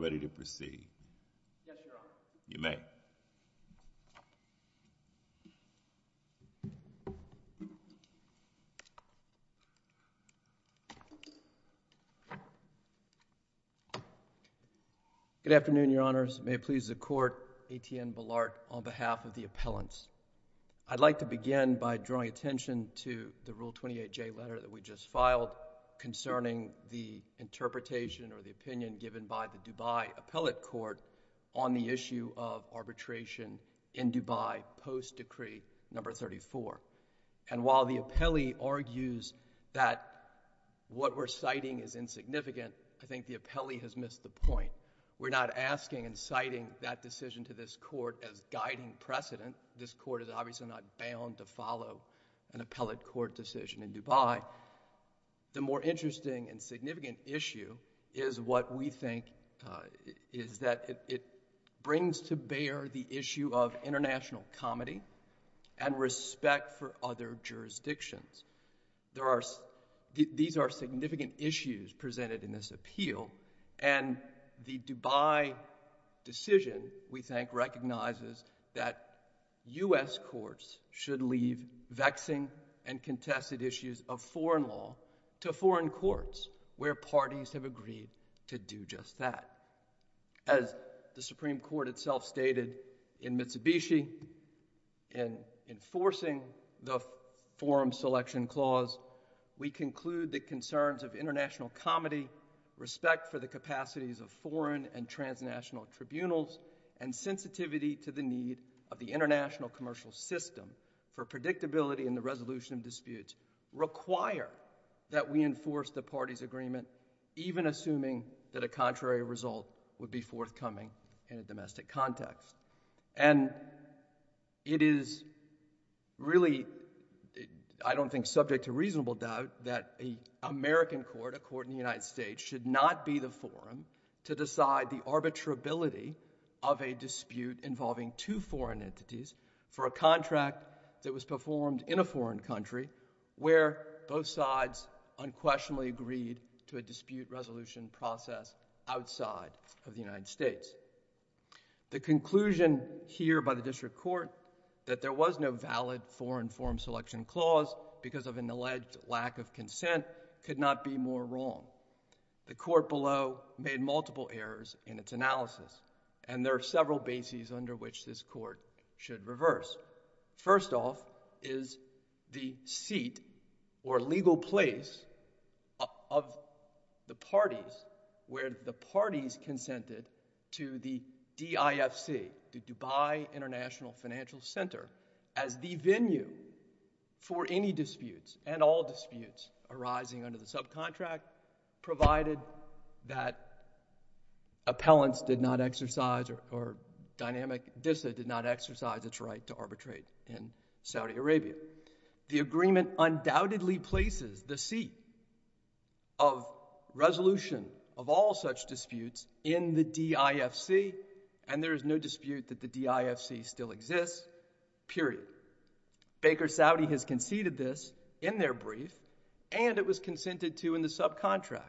ready to proceed? Yes, Your Honor. You may. Good afternoon, Your Honors. May it please the Court, A.T.N. Ballard on behalf of the appellants. I'd like to begin by drawing attention to the Rule 28J letter that we just filed concerning the interpretation or the opinion given by the Dubai Appellate Court on the issue of arbitration in Dubai post Decree No. 34. And while the appellee argues that what we're citing is insignificant, I think the appellee has missed the point. We're not asking and citing that decision to this Court as guiding precedent. This Court is obviously not bound to follow an appellate court decision in Dubai. The more interesting and significant issue is what we think is that it brings to bear the issue of international comedy and respect for other jurisdictions. These are significant issues presented in this appeal, and the Dubai decision, we think, recognizes that U.S. courts should leave vexing and contested issues of foreign law to foreign courts where parties have agreed to do just that. As the Supreme Court itself stated in Mitsubishi in enforcing the Forum Selection Clause, we conclude the concerns of international comedy, respect for the capacities of foreign and transnational tribunals, and sensitivity to the need of the international commercial system for predictability in the resolution of disputes require that we enforce the parties' agreement, even assuming that a contrary result would be forthcoming in a domestic context. And it is really, I don't think, subject to reasonable doubt that an American court, a court in the United States, should not be the forum to decide the arbitrability of a dispute involving two foreign entities for a contract that was performed in a foreign country where both sides unquestionably agreed to a dispute resolution process outside of the United States. The conclusion here by the District Court that there was no valid Foreign Forum Selection Clause because of an alleged lack of consent could not be more wrong. The court below made multiple errors in its analysis, and there are several bases under which this court should reverse. First off is the seat or legal place of the parties where the parties consented to the DIFC, the Dubai International Financial Center, as the venue for any disputes and all disputes arising under the subcontract provided that appellants did not exercise or Dynamic DISA did not exercise its right to arbitrate in Saudi Arabia. The agreement undoubtedly places the seat of resolution of all such disputes in the DIFC, and there is no dispute that the DIFC still exists, period. Baker Saudi has conceded this in their brief, and it was consented to in the subcontract.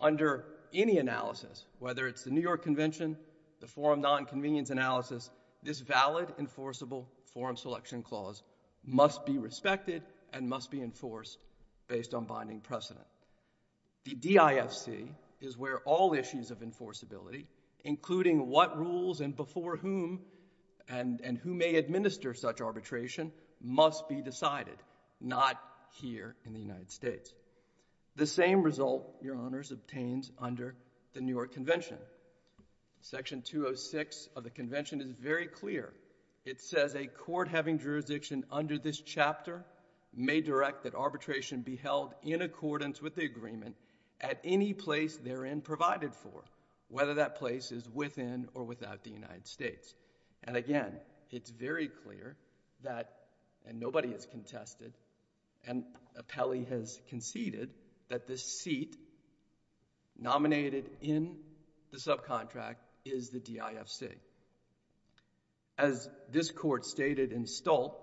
Under any analysis, whether it's the New York Convention, the Forum Nonconvenience Analysis, this valid enforceable Forum Selection Clause must be respected and must be enforced based on binding precedent. The DIFC is where all issues of enforceability, including what rules and before whom and who may administer such arbitration, must be decided, not here in the United States. The same result, Your Honors, obtains under the New York Convention. Section 206 of the Convention is very clear. It says a court having jurisdiction under this chapter may direct that arbitration be held in accordance with the agreement at any place therein provided for, whether that place is within or without the United States. And again, it's very clear that, and nobody has contested, and Appelli has conceded that the seat nominated in the subcontract is the DIFC. As this Court stated in Stolt,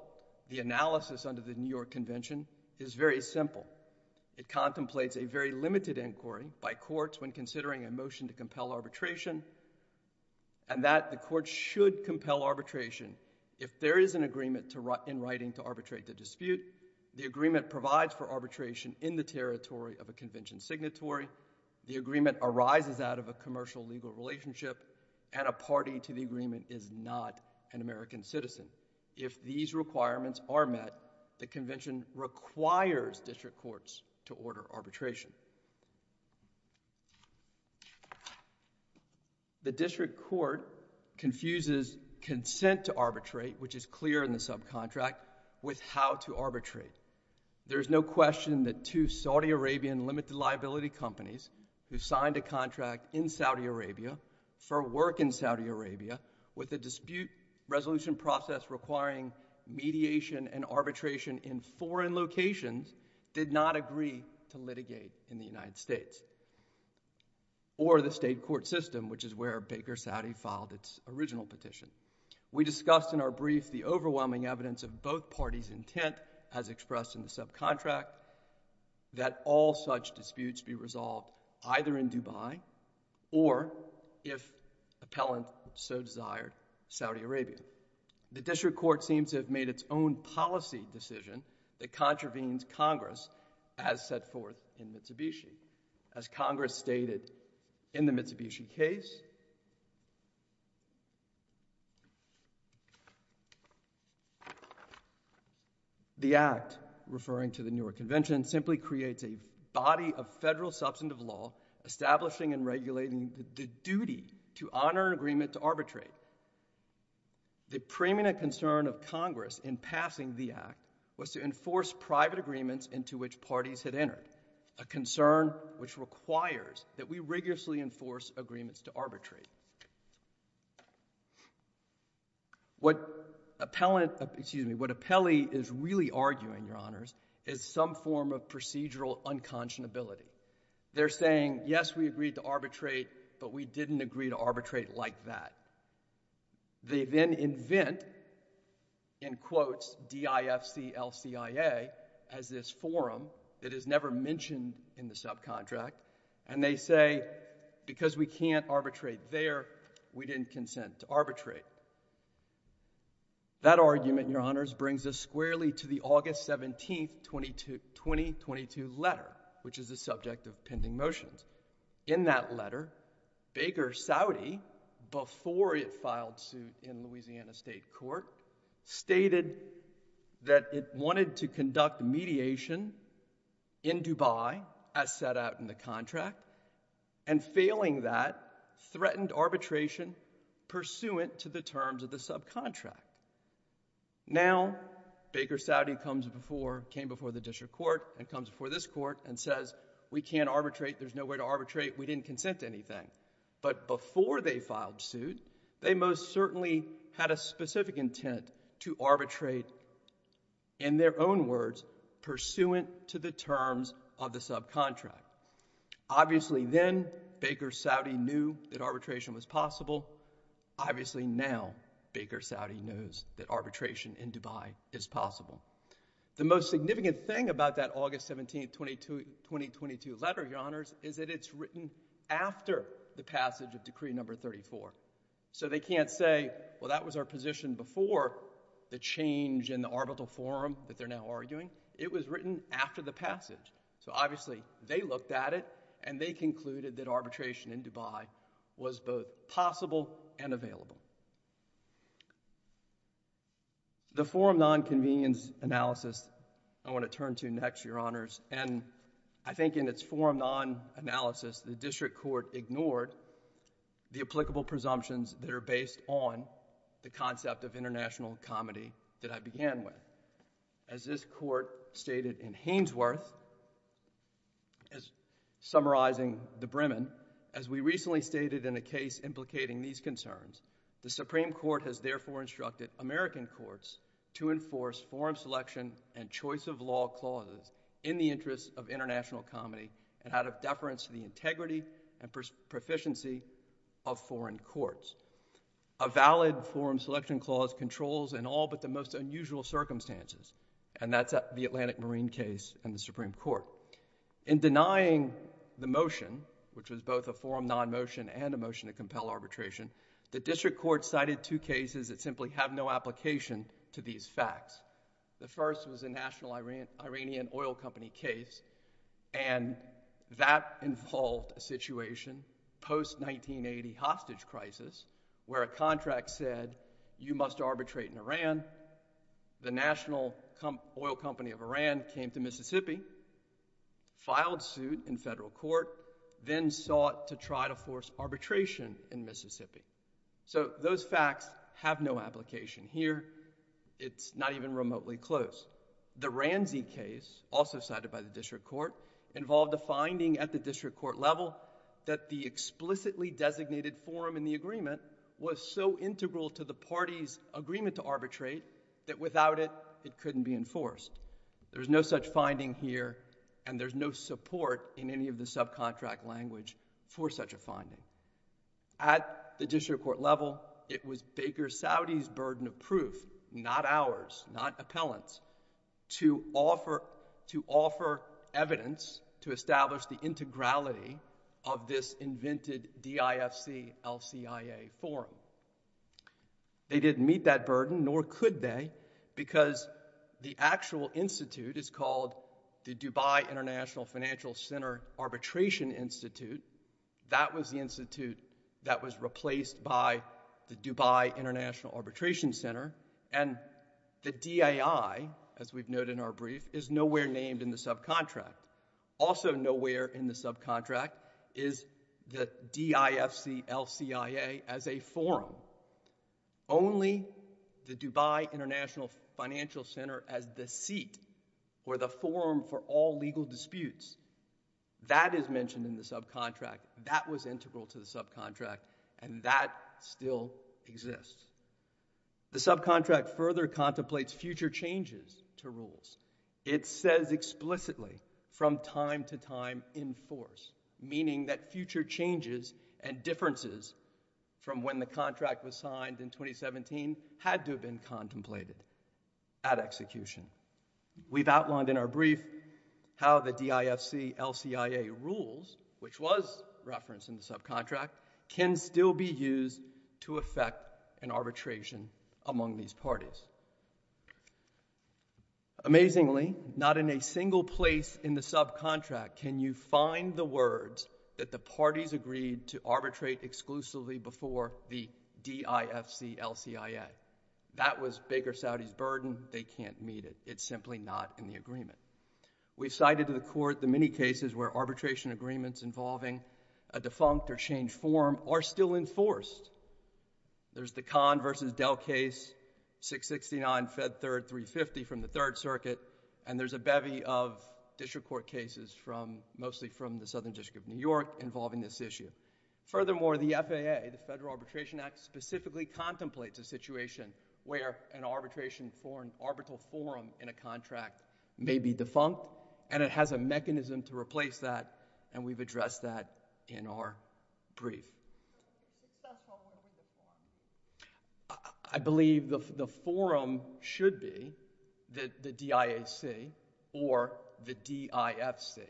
the analysis under the New York Convention is very simple. It contemplates a very limited inquiry by courts when considering a motion to compel arbitration, and that the court should compel arbitration if there is an agreement in writing to arbitrate the dispute, the agreement provides for arbitration in the territory of a convention signatory, the agreement arises out of a commercial legal relationship, and a party to the agreement is not an American citizen. If these requirements are met, the Convention requires district courts to order arbitration. The district court confuses consent to arbitrate, which is clear in the subcontract, with how to arbitrate. There is no question that two Saudi Arabian limited liability companies who signed a contract in Saudi Arabia for work in Saudi Arabia with a dispute resolution process requiring mediation and arbitration in foreign locations did not agree to litigate in the United States, or the state court system, which is where Baker Saudi filed its original petition. We discussed in our brief the overwhelming evidence of both parties' intent, as expressed in the subcontract, that all such disputes be resolved either in Dubai or, if appellant so desired, Saudi Arabia. The district court seems to have made its own policy decision that contravenes Congress as set forth in Mitsubishi. As Congress stated in the Mitsubishi case, the Act, referring to the newer Convention, simply creates a body of federal substantive law establishing and regulating the duty to honor an agreement to arbitrate. The preeminent concern of Congress in passing the Act was to enforce private agreements into which parties had entered, a concern which requires that we rigorously enforce agreements to arbitrate. What appellant, excuse me, what appellee is really arguing, Your Honors, is some form of procedural unconscionability. They're saying, yes, we agreed to arbitrate, but we didn't agree to arbitrate like that. They then invent, in quotes, D-I-F-C-L-C-I-A as this forum that is never mentioned in the subcontract, and they say, because we can't arbitrate there, we didn't consent to arbitrate. That argument, Your Honors, brings us squarely to the August 17, 2022 letter, which is the subject of pending motions. In that letter, Baker Saudi, before it filed suit in Louisiana State Court, stated that it wanted to conduct mediation in Dubai, as set out in the contract, and failing that, threatened arbitration pursuant to the terms of the subcontract. Now, Baker Saudi comes before, came before the court, and comes before this court, and says, we can't arbitrate, there's no way to arbitrate, we didn't consent to anything. But before they filed suit, they most certainly had a specific intent to arbitrate, in their own words, pursuant to the terms of the subcontract. Obviously then, Baker Saudi knew that arbitration was possible. Obviously now, Baker Saudi knows that arbitration in Dubai is possible. The most significant thing about that August 17, 2022 letter, Your Honors, is that it's written after the passage of Decree Number 34. So they can't say, well, that was our position before the change in the arbitral forum that they're now arguing. It was written after the passage. So obviously, they looked at it, and they concluded that arbitration in Dubai was both possible and available. The forum non-convenience analysis I want to turn to next, Your Honors, and I think in its forum non-analysis, the district court ignored the applicable presumptions that are based on the concept of international comedy that I began with. As this court stated in Hainesworth, as summarizing the Bremen, as we recently stated in a case implicating these concerns, the Supreme Court has therefore instructed American courts to enforce forum selection and choice of law clauses in the interest of international comedy and out of deference to the integrity and proficiency of foreign courts. A valid forum selection clause controls in all but the most unusual circumstances, and that's the Atlantic Marine case in the Supreme Court. In denying the motion, which was both a forum non-motion and a motion to compel arbitration, the district court cited two cases that simply have no application to these facts. The first was a national Iranian oil company case, and that involved a situation post-1980 hostage crisis where a contract said, you must arbitrate in Iran. The national oil company of Iran came to Mississippi, filed suit in federal court, then sought to try to force arbitration in Mississippi. So those facts have no application here. It's not even remotely close. The Ranzi case, also cited by the district court, involved a finding at the district court level that the explicitly designated forum in the agreement was so integral to the party's agreement to arbitrate that without it, it couldn't be enforced. There's no such finding here, and there's no support in any of the subcontract language for such a finding. At the district court level, it was Baker Saudi's burden of proof, not ours, not appellant's, to offer evidence to establish the integrality of this invented DIFC-LCIA forum. They didn't meet that burden, nor could they, because the actual institute is called the Dubai International Financial Center Arbitration Institute. That was the institute that was replaced by the Dubai International Arbitration Center, and the DAI, as we've noted in our earlier in the subcontract, is the DIFC-LCIA as a forum. Only the Dubai International Financial Center as the seat, or the forum for all legal disputes, that is mentioned in the subcontract. That was integral to the subcontract, and that still exists. The subcontract further contemplates future changes to rules. It says explicitly, from time to time, in force, meaning that future changes and differences from when the contract was signed in 2017 had to have been contemplated at execution. We've outlined in our brief how the DIFC-LCIA rules, which was referenced in the subcontract, can still be used to affect an arbitration among these parties. Amazingly, not in a single place in the subcontract can you find the words that the parties agreed to arbitrate exclusively before the DIFC-LCIA. That was Baker Saudi's burden. They can't meet it. It's simply not in the agreement. We've cited to the court the many cases where arbitration agreements involving a defunct or changed forum are still enforced. There's the Khan versus Dell case, 669 Fed Third 350 from the Third Circuit, and there's a bevy of district court cases mostly from the Southern District of New York involving this issue. Furthermore, the FAA, the Federal Arbitration Act, specifically contemplates a situation where an arbitration forum, an arbitral forum in a contract, may be defunct, and it has a mechanism to replace that, and we've addressed that in our brief. I believe the forum should be the DIAC or the DIFC.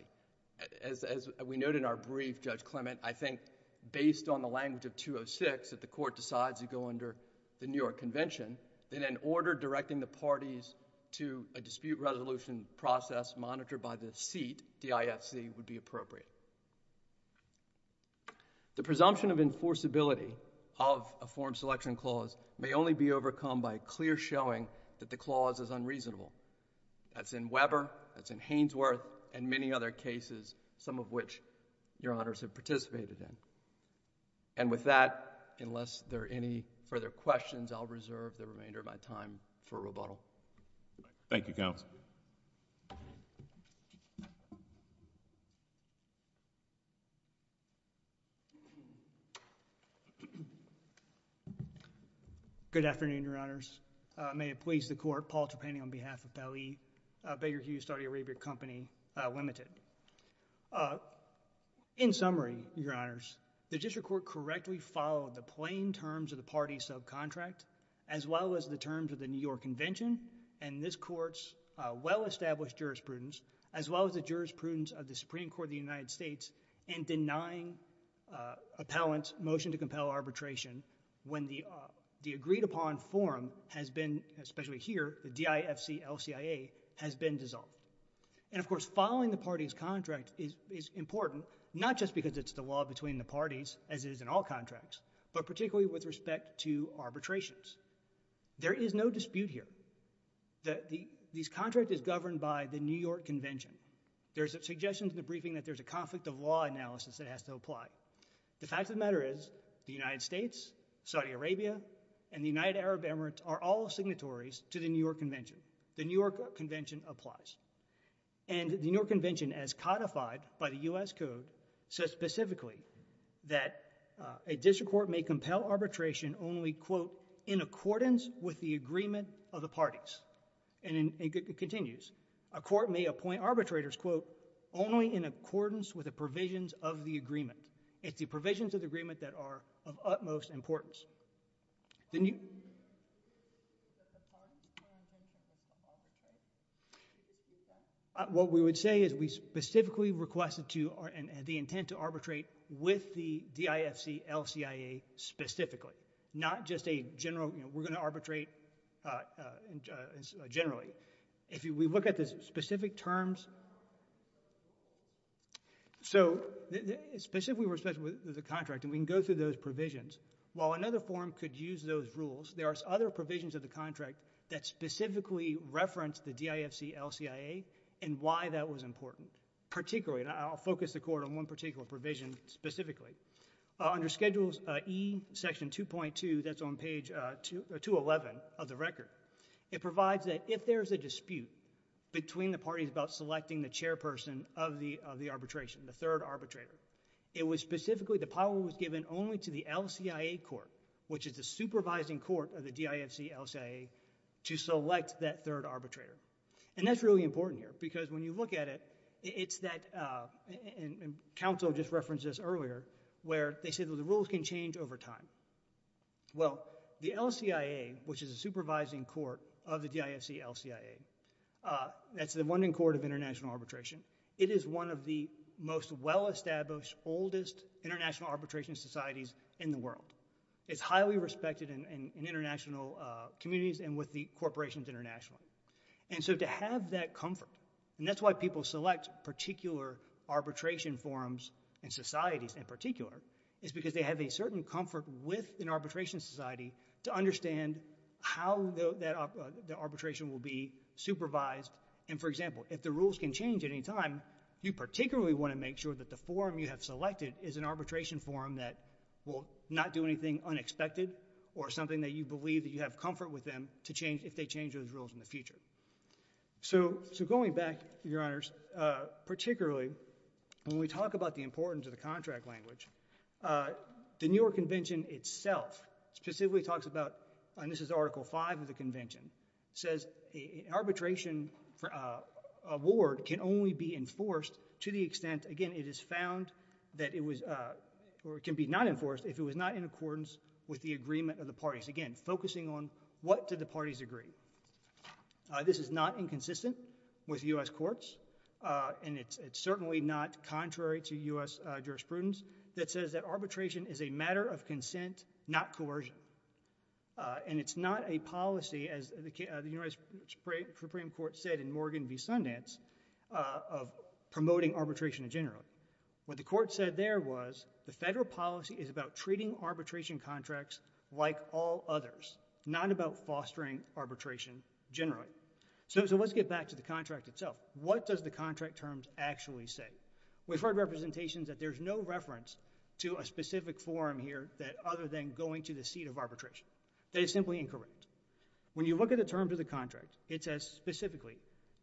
As we noted in our brief, Judge Clement, I think based on the language of 206, if the court decides to go under the New York Convention, then an order directing the parties to a dispute resolution process monitored by the seat, DIFC, would be appropriate. The presumption of enforceability of a forum selection clause may only be overcome by a clear showing that the clause is unreasonable. That's in Weber, that's in Hainsworth, and many other cases, some of which your Honors have participated in. And with that, unless there are any further questions, I'll reserve the remainder of my time for rebuttal. Thank you, Counsel. Good afternoon, Your Honors. May it please the Court, Paul Trepani on behalf of Beggar Hughes, Saudi Arabia Company, Ltd. In summary, Your Honors, the District Court correctly followed the plain terms of the party subcontract, as well as the terms of the New York Convention, and this Court's well-established jurisprudence, as well as the jurisprudence of the Supreme Court of the United States, in denying appellant motion to compel arbitration when the agreed-upon forum has been, especially here, the DIFC-LCIA, has been dissolved. And of course, following the party's contract is important, not just because it's the law between the parties, as it is in all contracts, but particularly with respect to arbitrations. There is no dispute here that this contract is governed by the New York Convention. There's suggestions in the briefing that there's a conflict of law analysis that has to apply. The fact of the matter is, the United States, Saudi Arabia, and the United Arab Emirates are all signatories to the New York Convention. The New York Convention applies. And the New York Convention, as codified by the U.S. Code, says specifically that a district court may compel arbitration only, quote, in accordance with the agreement of the parties. And it continues. A court may appoint arbitrators, quote, only in accordance with the provisions of the agreement. It's the provisions of the agreement that are of utmost importance. Then you... What we would say is, we specifically requested the intent to arbitrate with the DIFC-LCIA specifically, not just a general, you know, we're going to arbitrate generally. If we look at the specific terms... So, specifically with respect to the contract, and we can go through those provisions. While another forum could use those rules, there are other provisions of the contract that specifically reference the DIFC-LCIA and why that was important. Particularly, and I'll focus the court on one particular provision specifically, under Schedules E, Section 2.2, that's on page 211 of the record, it provides that if there's a dispute between the parties about selecting the chairperson of the arbitration, the third arbitrator, it was specifically, the power was given only to the LCIA court, which is the supervising court of the DIFC-LCIA, to select that third arbitrator. And that's really important here, because when you look at it, it's that, and counsel just referenced this earlier, where they say that the rules can change over time. Well, the LCIA, which is a supervising court of the DIFC-LCIA, that's the London Court of International Arbitration, it is one of the most well-established, oldest international arbitration societies in the world. It's highly respected in international communities and with the corporations internationally. And so to have that comfort, and that's why people select particular arbitration forums and societies in particular, is because they have a certain comfort with an arbitration society to understand how the arbitration will be supervised. And, for example, if the rules can change at any time, you particularly want to make sure that the forum you have selected is an arbitration forum that will not do anything unexpected or something that you believe that you have comfort with them if they change those rules in the future. So going back, Your Honors, particularly when we talk about the importance of the contract language, the New York Convention itself specifically talks about, and this is Article V of the Convention, says an arbitration award can only be enforced to the extent, again, it is found that it can be not enforced if it was not in accordance with the agreement of the parties. Again, focusing on what do the parties agree. This is not inconsistent with U.S. courts, and it's certainly not contrary to U.S. jurisprudence, that says that arbitration is a matter of consent, not coercion. And it's not a policy, as the United States Supreme Court said in Morgan v. Sundance, of promoting arbitration in general. What the court said there was the federal policy is about treating arbitration contracts like all others, not about fostering arbitration generally. So let's get back to the contract itself. What does the contract terms actually say? We've heard representations that there's no reference to a specific forum here other than going to the seat of arbitration. That is simply incorrect. When you look at the terms of the contract, it says specifically,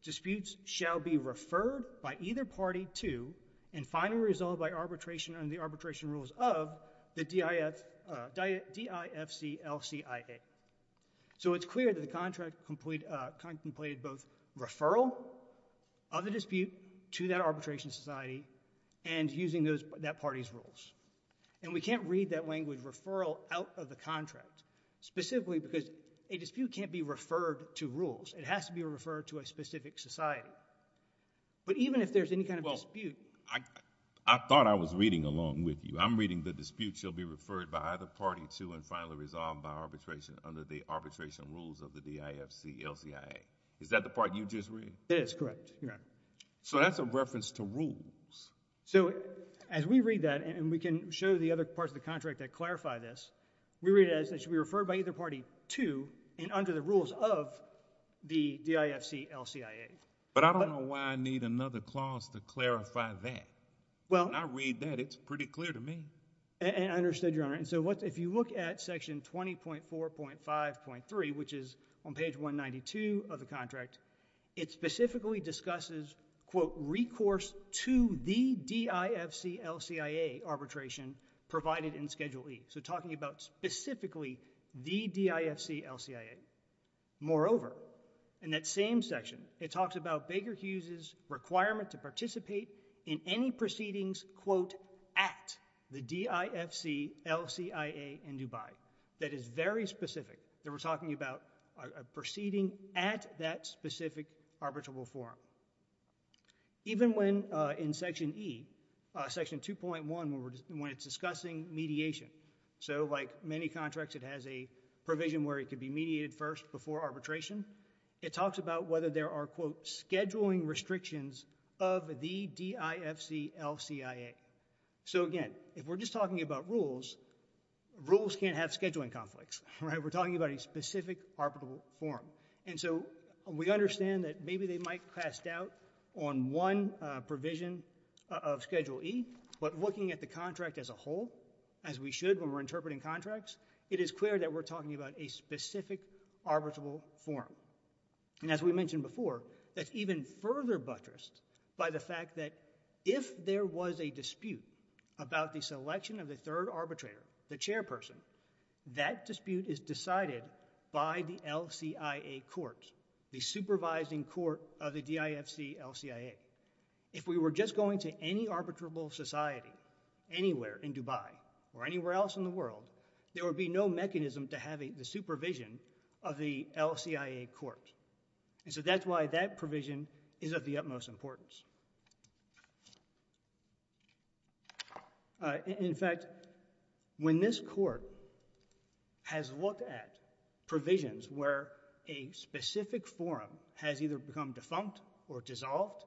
disputes shall be referred by either party to and finally resolved by arbitration under the arbitration rules of the DIFCLCIA. So it's clear that the contract contemplated both referral of the dispute to that arbitration society and using that party's rules. And we can't read that language, referral, out of the contract, specifically because a dispute can't be referred to rules. It has to be referred to a specific society. But even if there's any kind of dispute— Well, I thought I was reading along with you. I'm reading the dispute shall be referred by either party to and finally resolved by arbitration under the arbitration rules of the DIFCLCIA. Is that the part you just read? That is correct, Your Honor. So that's a reference to rules. So as we read that, and we can show the other parts of the contract that clarify this, we read it as it should be referred by either party to and under the rules of the DIFCLCIA. But I don't know why I need another clause to clarify that. When I read that, it's pretty clear to me. And I understood, Your Honor. And so if you look at section 20.4.5.3, which is on page 192 of the contract, it specifically discusses, quote, recourse to the DIFCLCIA arbitration provided in Schedule E. So talking about specifically the DIFCLCIA. Moreover, in that same section, it talks about Baker Hughes's requirement to participate in any proceedings, quote, at the DIFCLCIA in Dubai. That is very specific. We're talking about a proceeding at that specific arbitrable forum. Even when in section E, section 2.1, when it's discussing mediation. So like many contracts, it has a provision where it could be mediated first before arbitration. It talks about whether there are, quote, scheduling restrictions of the DIFCLCIA. So again, if we're just talking about rules, rules can't have scheduling conflicts. We're talking about a specific arbitrable forum. And so we understand that maybe they might cast doubt on one provision of Schedule E. But looking at the contract as a whole, as we should when we're interpreting contracts, it is clear that we're talking about a specific arbitrable forum. And as we mentioned before, that's even further buttressed by the fact that if there was a dispute about the selection of the third arbitrator, the chairperson, that dispute is decided by the LCIA court, the supervising court of the DIFCLCIA. If we were just going to any arbitrable society anywhere in Dubai or anywhere else in the world, there would be no mechanism to have the supervision of the LCIA court. And so that's why that provision is of the utmost importance. In fact, when this Court has looked at provisions where a specific forum has either become defunct or dissolved,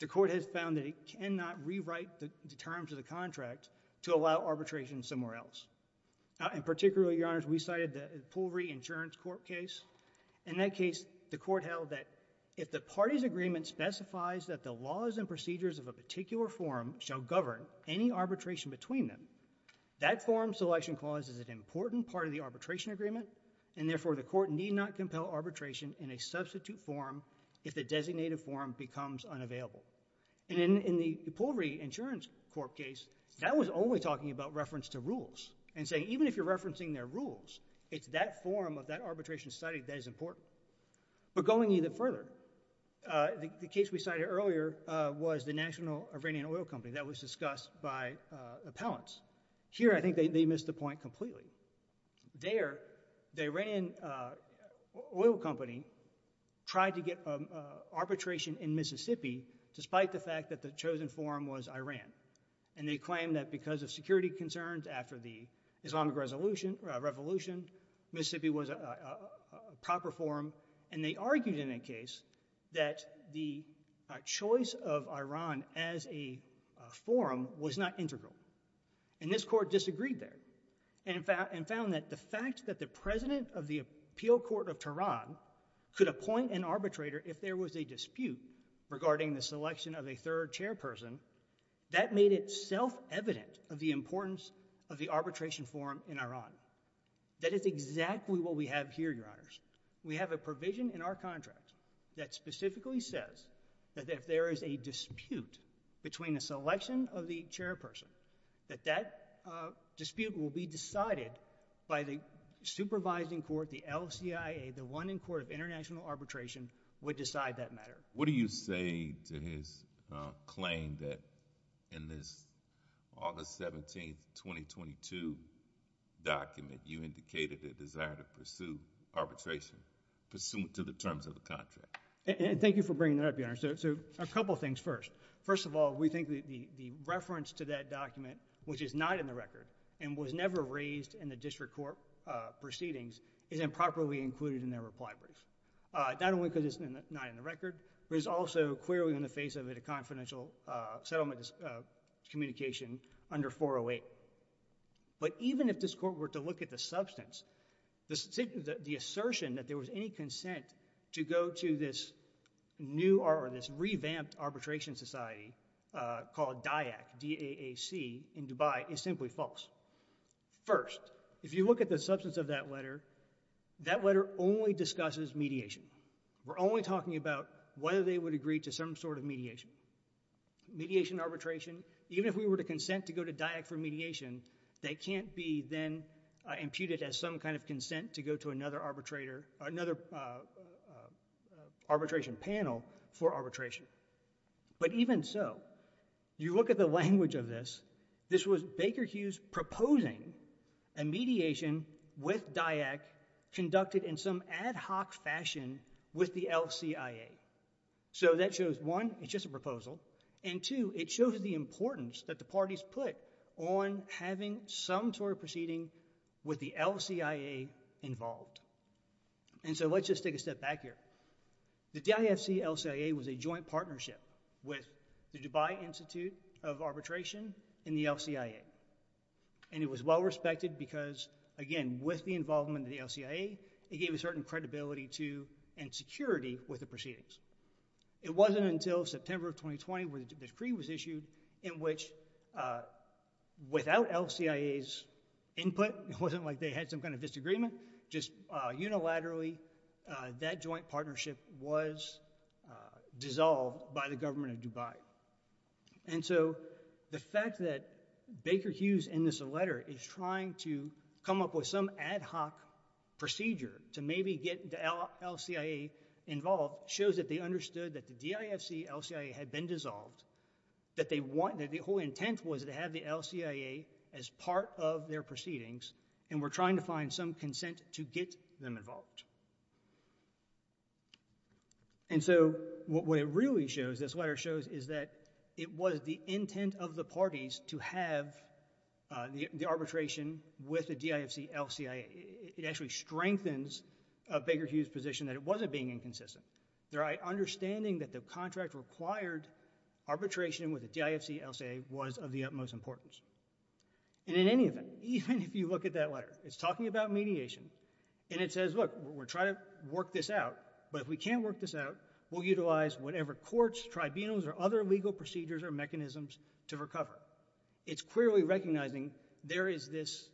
the Court has found that it cannot rewrite the terms of the contract to allow arbitration somewhere else. In particular, Your Honors, we cited the Poole v. Insurance Court case. In that case, the Court held that if the party's agreement specifies that the laws and procedures of a particular forum shall govern any arbitration between them, that forum selection clause is an important part of the arbitration agreement, and therefore the Court need not compel arbitration in a substitute forum if the designated forum becomes unavailable. And in the Poole v. Insurance Court case, that was only talking about reference to rules and saying even if you're referencing their rules, it's that forum of that arbitration study that is important. But going even further, the case we cited earlier was the National Iranian Oil Company that was discussed by appellants. Here, I think they missed the point completely. There, the Iranian Oil Company tried to get arbitration in Mississippi despite the fact that the chosen forum was Iran. And they claimed that because of security concerns after the Islamic Revolution, Mississippi was a proper forum, and they argued in that case that the choice of Iran as a forum was not integral. And this Court disagreed there and found that the fact that the president of the Appeal Court of Tehran could appoint an arbitrator if there was a dispute regarding the selection of a third chairperson, that made it self-evident of the importance of the arbitration forum in Iran. That is exactly what we have here, Your Honors. We have a provision in our contract that specifically says that if there is a dispute between a selection of the chairperson, that that dispute will be decided by the supervising court, the LCIA, the one in court of international arbitration, would decide that matter. What do you say to his claim that in this August 17, 2022 document, you indicated a desire to pursue arbitration pursuant to the terms of the contract? Thank you for bringing that up, Your Honors. A couple things first. First of all, we think the reference to that document, which is not in the record and was never raised in the district court proceedings, is improperly included in their reply brief. Not only because it's not in the record, but it's also clearly in the face of it a confidential settlement communication under 408. But even if this court were to look at the substance, the assertion that there was any consent to go to this revamped arbitration society called DAAC in Dubai is simply false. First, if you look at the substance of that letter, that letter only discusses mediation. We're only talking about whether they would agree to some sort of mediation. Mediation, arbitration, even if we were to consent to go to DAAC for mediation, that can't be then imputed as some kind of consent to go to another arbitrator, another arbitration panel for arbitration. But even so, you look at the language of this, this was Baker Hughes proposing a mediation with DAAC conducted in some ad hoc fashion with the LCIA. So that shows, one, it's just a proposal, and two, it shows the importance that the parties put on having some sort of proceeding with the LCIA involved. And so let's just take a step back here. The DIFC-LCIA was a joint partnership with the Dubai Institute of Arbitration and the LCIA. And it was well-respected because, again, with the involvement of the LCIA, it gave a certain credibility to and security with the proceedings. It wasn't until September of 2020 where the decree was issued, in which, without LCIA's input, it wasn't like they had some kind of disagreement, just unilaterally, that joint partnership was dissolved by the government of Dubai. And so the fact that Baker Hughes in this letter is trying to come up with some ad hoc procedure to maybe get the LCIA involved shows that they understood that the DIFC-LCIA had been dissolved, that the whole intent was to have the LCIA as part of their proceedings, and were trying to find some consent to get them involved. And so what it really shows, as this letter shows, is that it was the intent of the parties to have the arbitration with the DIFC-LCIA. It actually strengthens Baker Hughes' position that it wasn't being inconsistent. Their understanding that the contract required arbitration with the DIFC-LCIA was of the utmost importance. And in any event, even if you look at that letter, it's talking about mediation, and it says, look, we're trying to work this out, but if we can't work this out, we'll utilize whatever courts, tribunals, or other legal procedures or mechanisms to recover. It's clearly recognizing there is this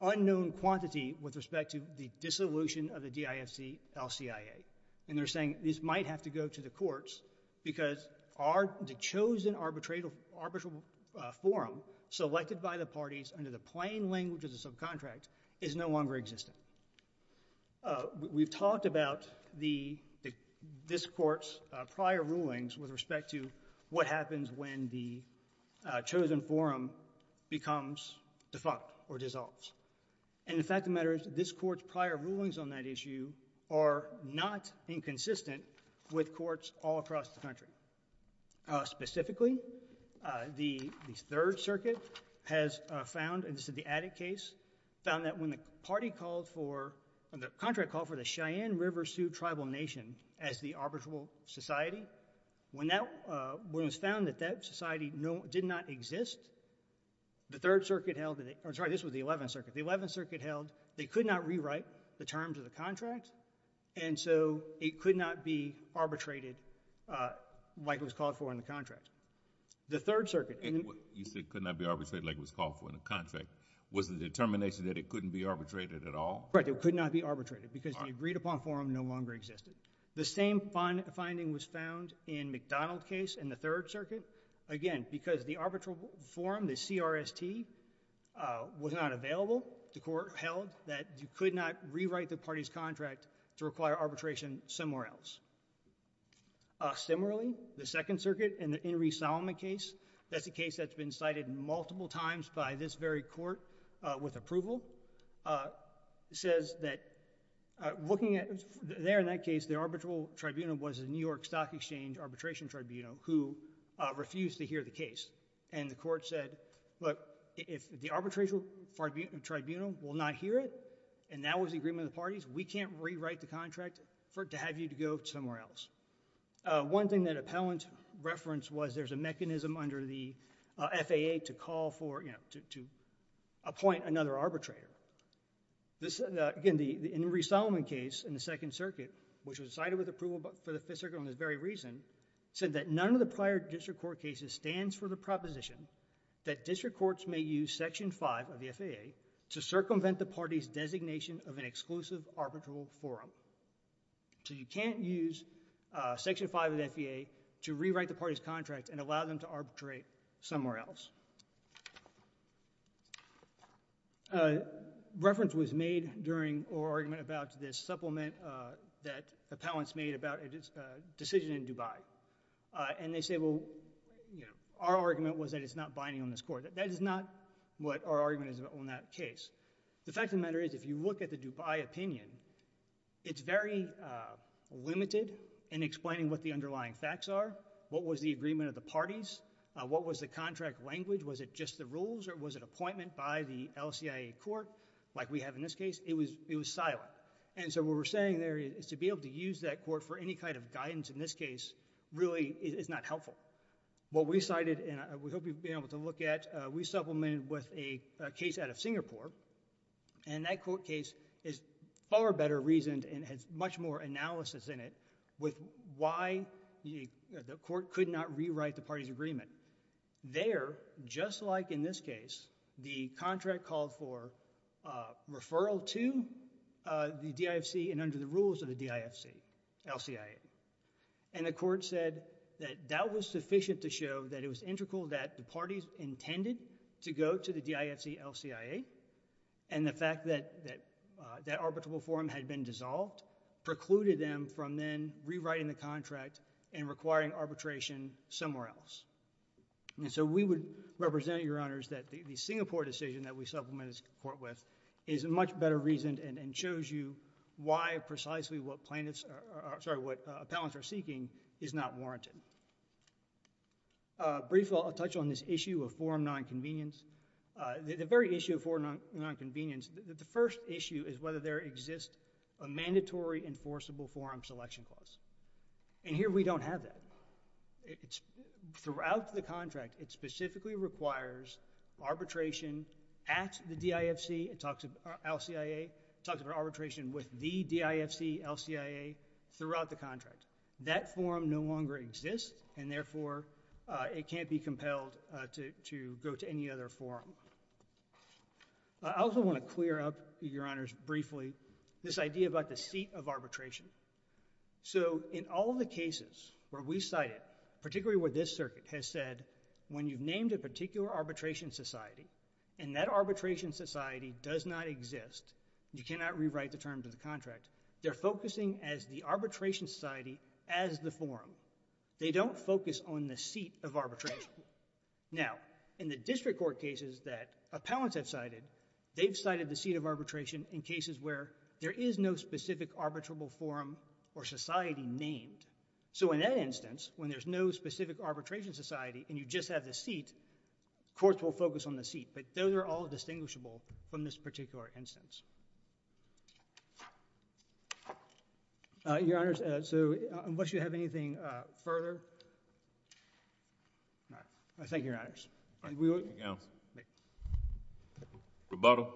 unknown quantity with respect to the dissolution of the DIFC-LCIA. And they're saying this might have to go to the courts because the chosen arbitral forum selected by the parties under the plain language of the subcontract is no longer existent. We've talked about this court's prior rulings with respect to what happens when the chosen forum becomes defunct or dissolves. And the fact of the matter is this court's prior rulings on that issue are not inconsistent with courts all across the country. Specifically, the Third Circuit has found, and this is the Attic case, found that when the contract called for the Cheyenne River Sioux Tribal Nation as the arbitral society, when it was found that that society did not exist, the Third Circuit held... Sorry, this was the Eleventh Circuit. The Eleventh Circuit held they could not rewrite the terms of the contract, and so it could not be arbitrated like it was called for in the contract. The Third Circuit... You said it could not be arbitrated like it was called for in the contract. Was the determination that it couldn't be arbitrated at all? Right, it could not be arbitrated because the agreed-upon forum no longer existed. The same finding was found in McDonald case in the Third Circuit. Again, because the arbitral forum, the CRST, was not available, the court held that you could not rewrite the party's contract to require arbitration somewhere else. Similarly, the Second Circuit in the Henry Solomon case, that's a case that's been cited multiple times by this very court with approval, says that looking at... There, in that case, the arbitral tribunal was the New York Stock Exchange Arbitration Tribunal who refused to hear the case, and the court said, look, if the arbitration tribunal will not hear it, and that was the agreement of the parties, we can't rewrite the contract to have you to go somewhere else. One thing that appellant referenced was there's a mechanism under the FAA to call for, you know, to appoint another arbitrator. This, again, in the Henry Solomon case in the Second Circuit, which was cited with approval for the Fifth Circuit on this very reason, said that none of the prior district court cases stands for the proposition that district courts may use Section 5 of the FAA to circumvent the party's designation of an exclusive arbitral forum. So you can't use Section 5 of the FAA to rewrite the party's contract and allow them to arbitrate somewhere else. Reference was made during our argument about this supplement that appellants made about a decision in Dubai, and they say, well, you know, our argument was that it's not binding on this court. That is not what our argument is on that case. The fact of the matter is if you look at the Dubai opinion, it's very limited in explaining what the underlying facts are, what was the agreement of the parties, what was the contract language, was it just the rules, or was it appointment by the LCIA court, like we have in this case? It was silent. And so what we're saying there is to be able to use that court for any kind of guidance in this case really is not helpful. What we cited, and we hope you'll be able to look at, we supplemented with a case out of Singapore, and that court case is far better reasoned and has much more analysis in it with why the court could not rewrite the party's agreement. There, just like in this case, the contract called for referral to the DIFC and under the rules of the DIFC, LCIA, and the court said that that was sufficient to show that it was integral that the parties intended to go to the DIFC-LCIA, and the fact that that arbitrable forum had been dissolved precluded them from then rewriting the contract and requiring arbitration somewhere else. And so we would represent your honors that the Singapore decision that we supplemented this court with is much better reasoned and shows you why precisely what planets, sorry, what appellants are seeking is not warranted. Briefly, I'll touch on this issue of forum nonconvenience. The very issue of forum nonconvenience, the first issue is whether there exists a mandatory enforceable forum selection clause. And here we don't have that. Throughout the contract, it specifically requires arbitration at the DIFC, it talks about LCIA, it talks about arbitration with the DIFC-LCIA throughout the contract. That forum no longer exists and therefore it can't be compelled to go to any other forum. I also wanna clear up, your honors, briefly this idea about the seat of arbitration. So in all the cases where we cited, particularly where this circuit has said when you've named a particular arbitration society and that arbitration society does not exist, you cannot rewrite the terms of the contract, they're focusing as the arbitration society as the forum. They don't focus on the seat of arbitration. Now, in the district court cases that appellants have cited, they've cited the seat of arbitration in cases where there is no specific arbitrable forum or society named. So in that instance, when there's no specific arbitration society and you just have the seat, courts will focus on the seat. But those are all distinguishable from this particular instance. Your honors, so unless you have anything further. All right, thank you, your honors. Thank you, your honors. Thank you. Rebuttal.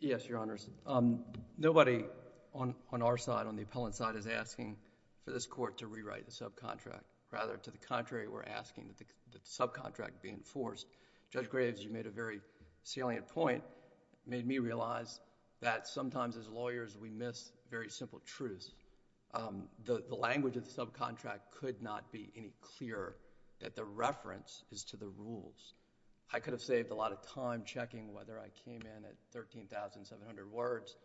Yes, your honors. Nobody on our side, on the appellant's side, is asking for this court to rewrite the subcontract. Rather, to the contrary, we're asking that the subcontract be enforced. Judge Graves, you made a very salient point, made me realize that sometimes as lawyers, we miss very simple truths. The language of the subcontract could not be any clearer that the reference is to the rules. I could have saved a lot of time checking whether I came in at 13,700 words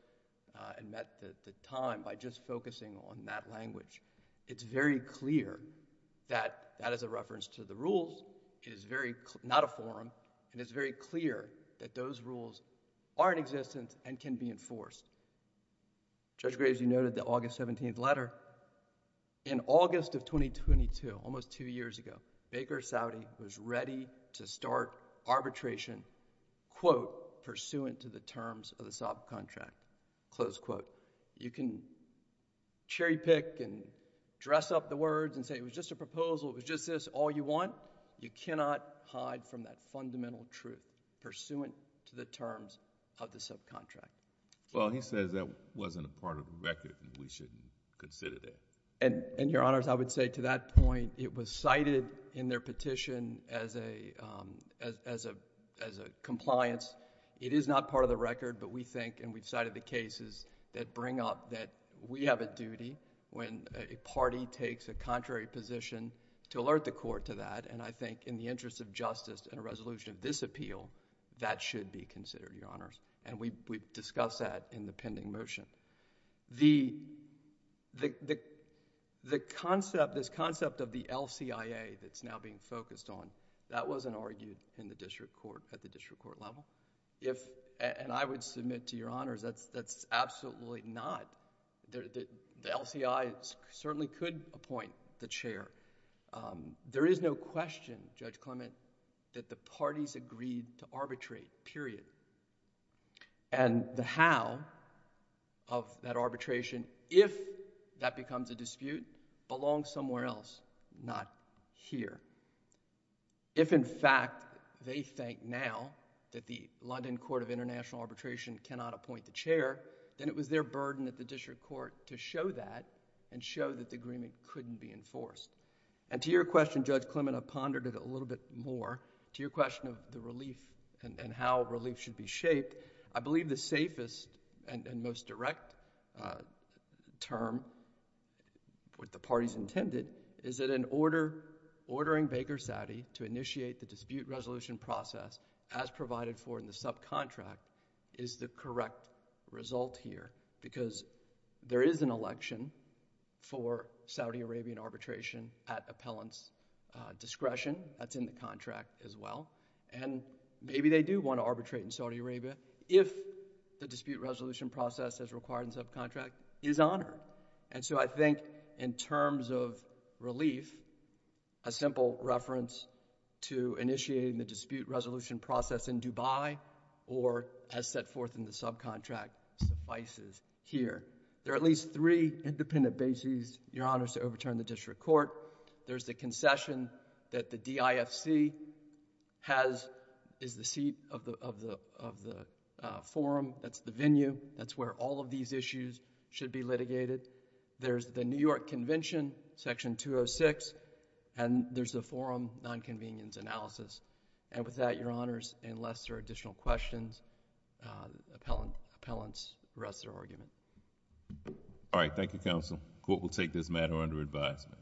and met the time by just focusing on that language. It's very clear that that is a reference to the rules. It is very, not a forum, and it's very clear that those rules are in existence and can be enforced. Judge Graves, you noted the August 17th letter. In August of 2022, almost two years ago, Baker Saudi was ready to start arbitration, quote, pursuant to the terms of the subcontract, close quote. You can cherry pick and dress up the words and say it was just a proposal, it was just this, all you want. You cannot hide from that fundamental truth pursuant to the terms of the subcontract. Well, he says that wasn't a part of the record and we shouldn't consider that. And, Your Honors, I would say to that point, it was cited in their petition as a compliance. It is not part of the record, but we think, and we've cited the cases that bring up that we have a duty when a party takes a contrary position to alert the court to that, and I think in the interest of justice and a resolution of this appeal, that should be considered, Your Honors. And we've discussed that in the pending motion. The concept, this concept of the LCIA that's now being focused on, that wasn't argued in the district court, at the district court level. If, and I would submit to Your Honors, that's absolutely not. The LCI certainly could appoint the chair. There is no question, Judge Clement, that the parties agreed to arbitrate, period. And the how of that arbitration, if that becomes a dispute, belongs somewhere else, not here. If, in fact, they think now that the London Court of International Arbitration cannot appoint the chair, then it was their burden at the district court to show that and show that the agreement couldn't be enforced. And to your question, Judge Clement, I pondered it a little bit more. To your question of the relief and how relief should be shaped, I believe the safest and most direct term, what the parties intended, is that in ordering Baker Saudi to initiate the dispute resolution process, as provided for in the subcontract, is the correct result here. Because there is an election for Saudi Arabian arbitration at appellant's discretion. That's in the contract as well. And maybe they do want to arbitrate in Saudi Arabia if the dispute resolution process as required in subcontract is honored. And so I think in terms of relief, a simple reference to initiating the dispute resolution process in Dubai or as set forth in the subcontract suffices here. There are at least three independent bases, Your Honors, to overturn the district court. There's the concession that the DIFC is the seat of the forum, that's the venue, that's where all of these issues should be litigated. There's the New York Convention, Section 206, and there's the forum nonconvenience analysis. And with that, Your Honors, unless there are additional questions, appellants rest their argument. All right. Thank you, Counsel. Court will take this matter under advisement. Thank you.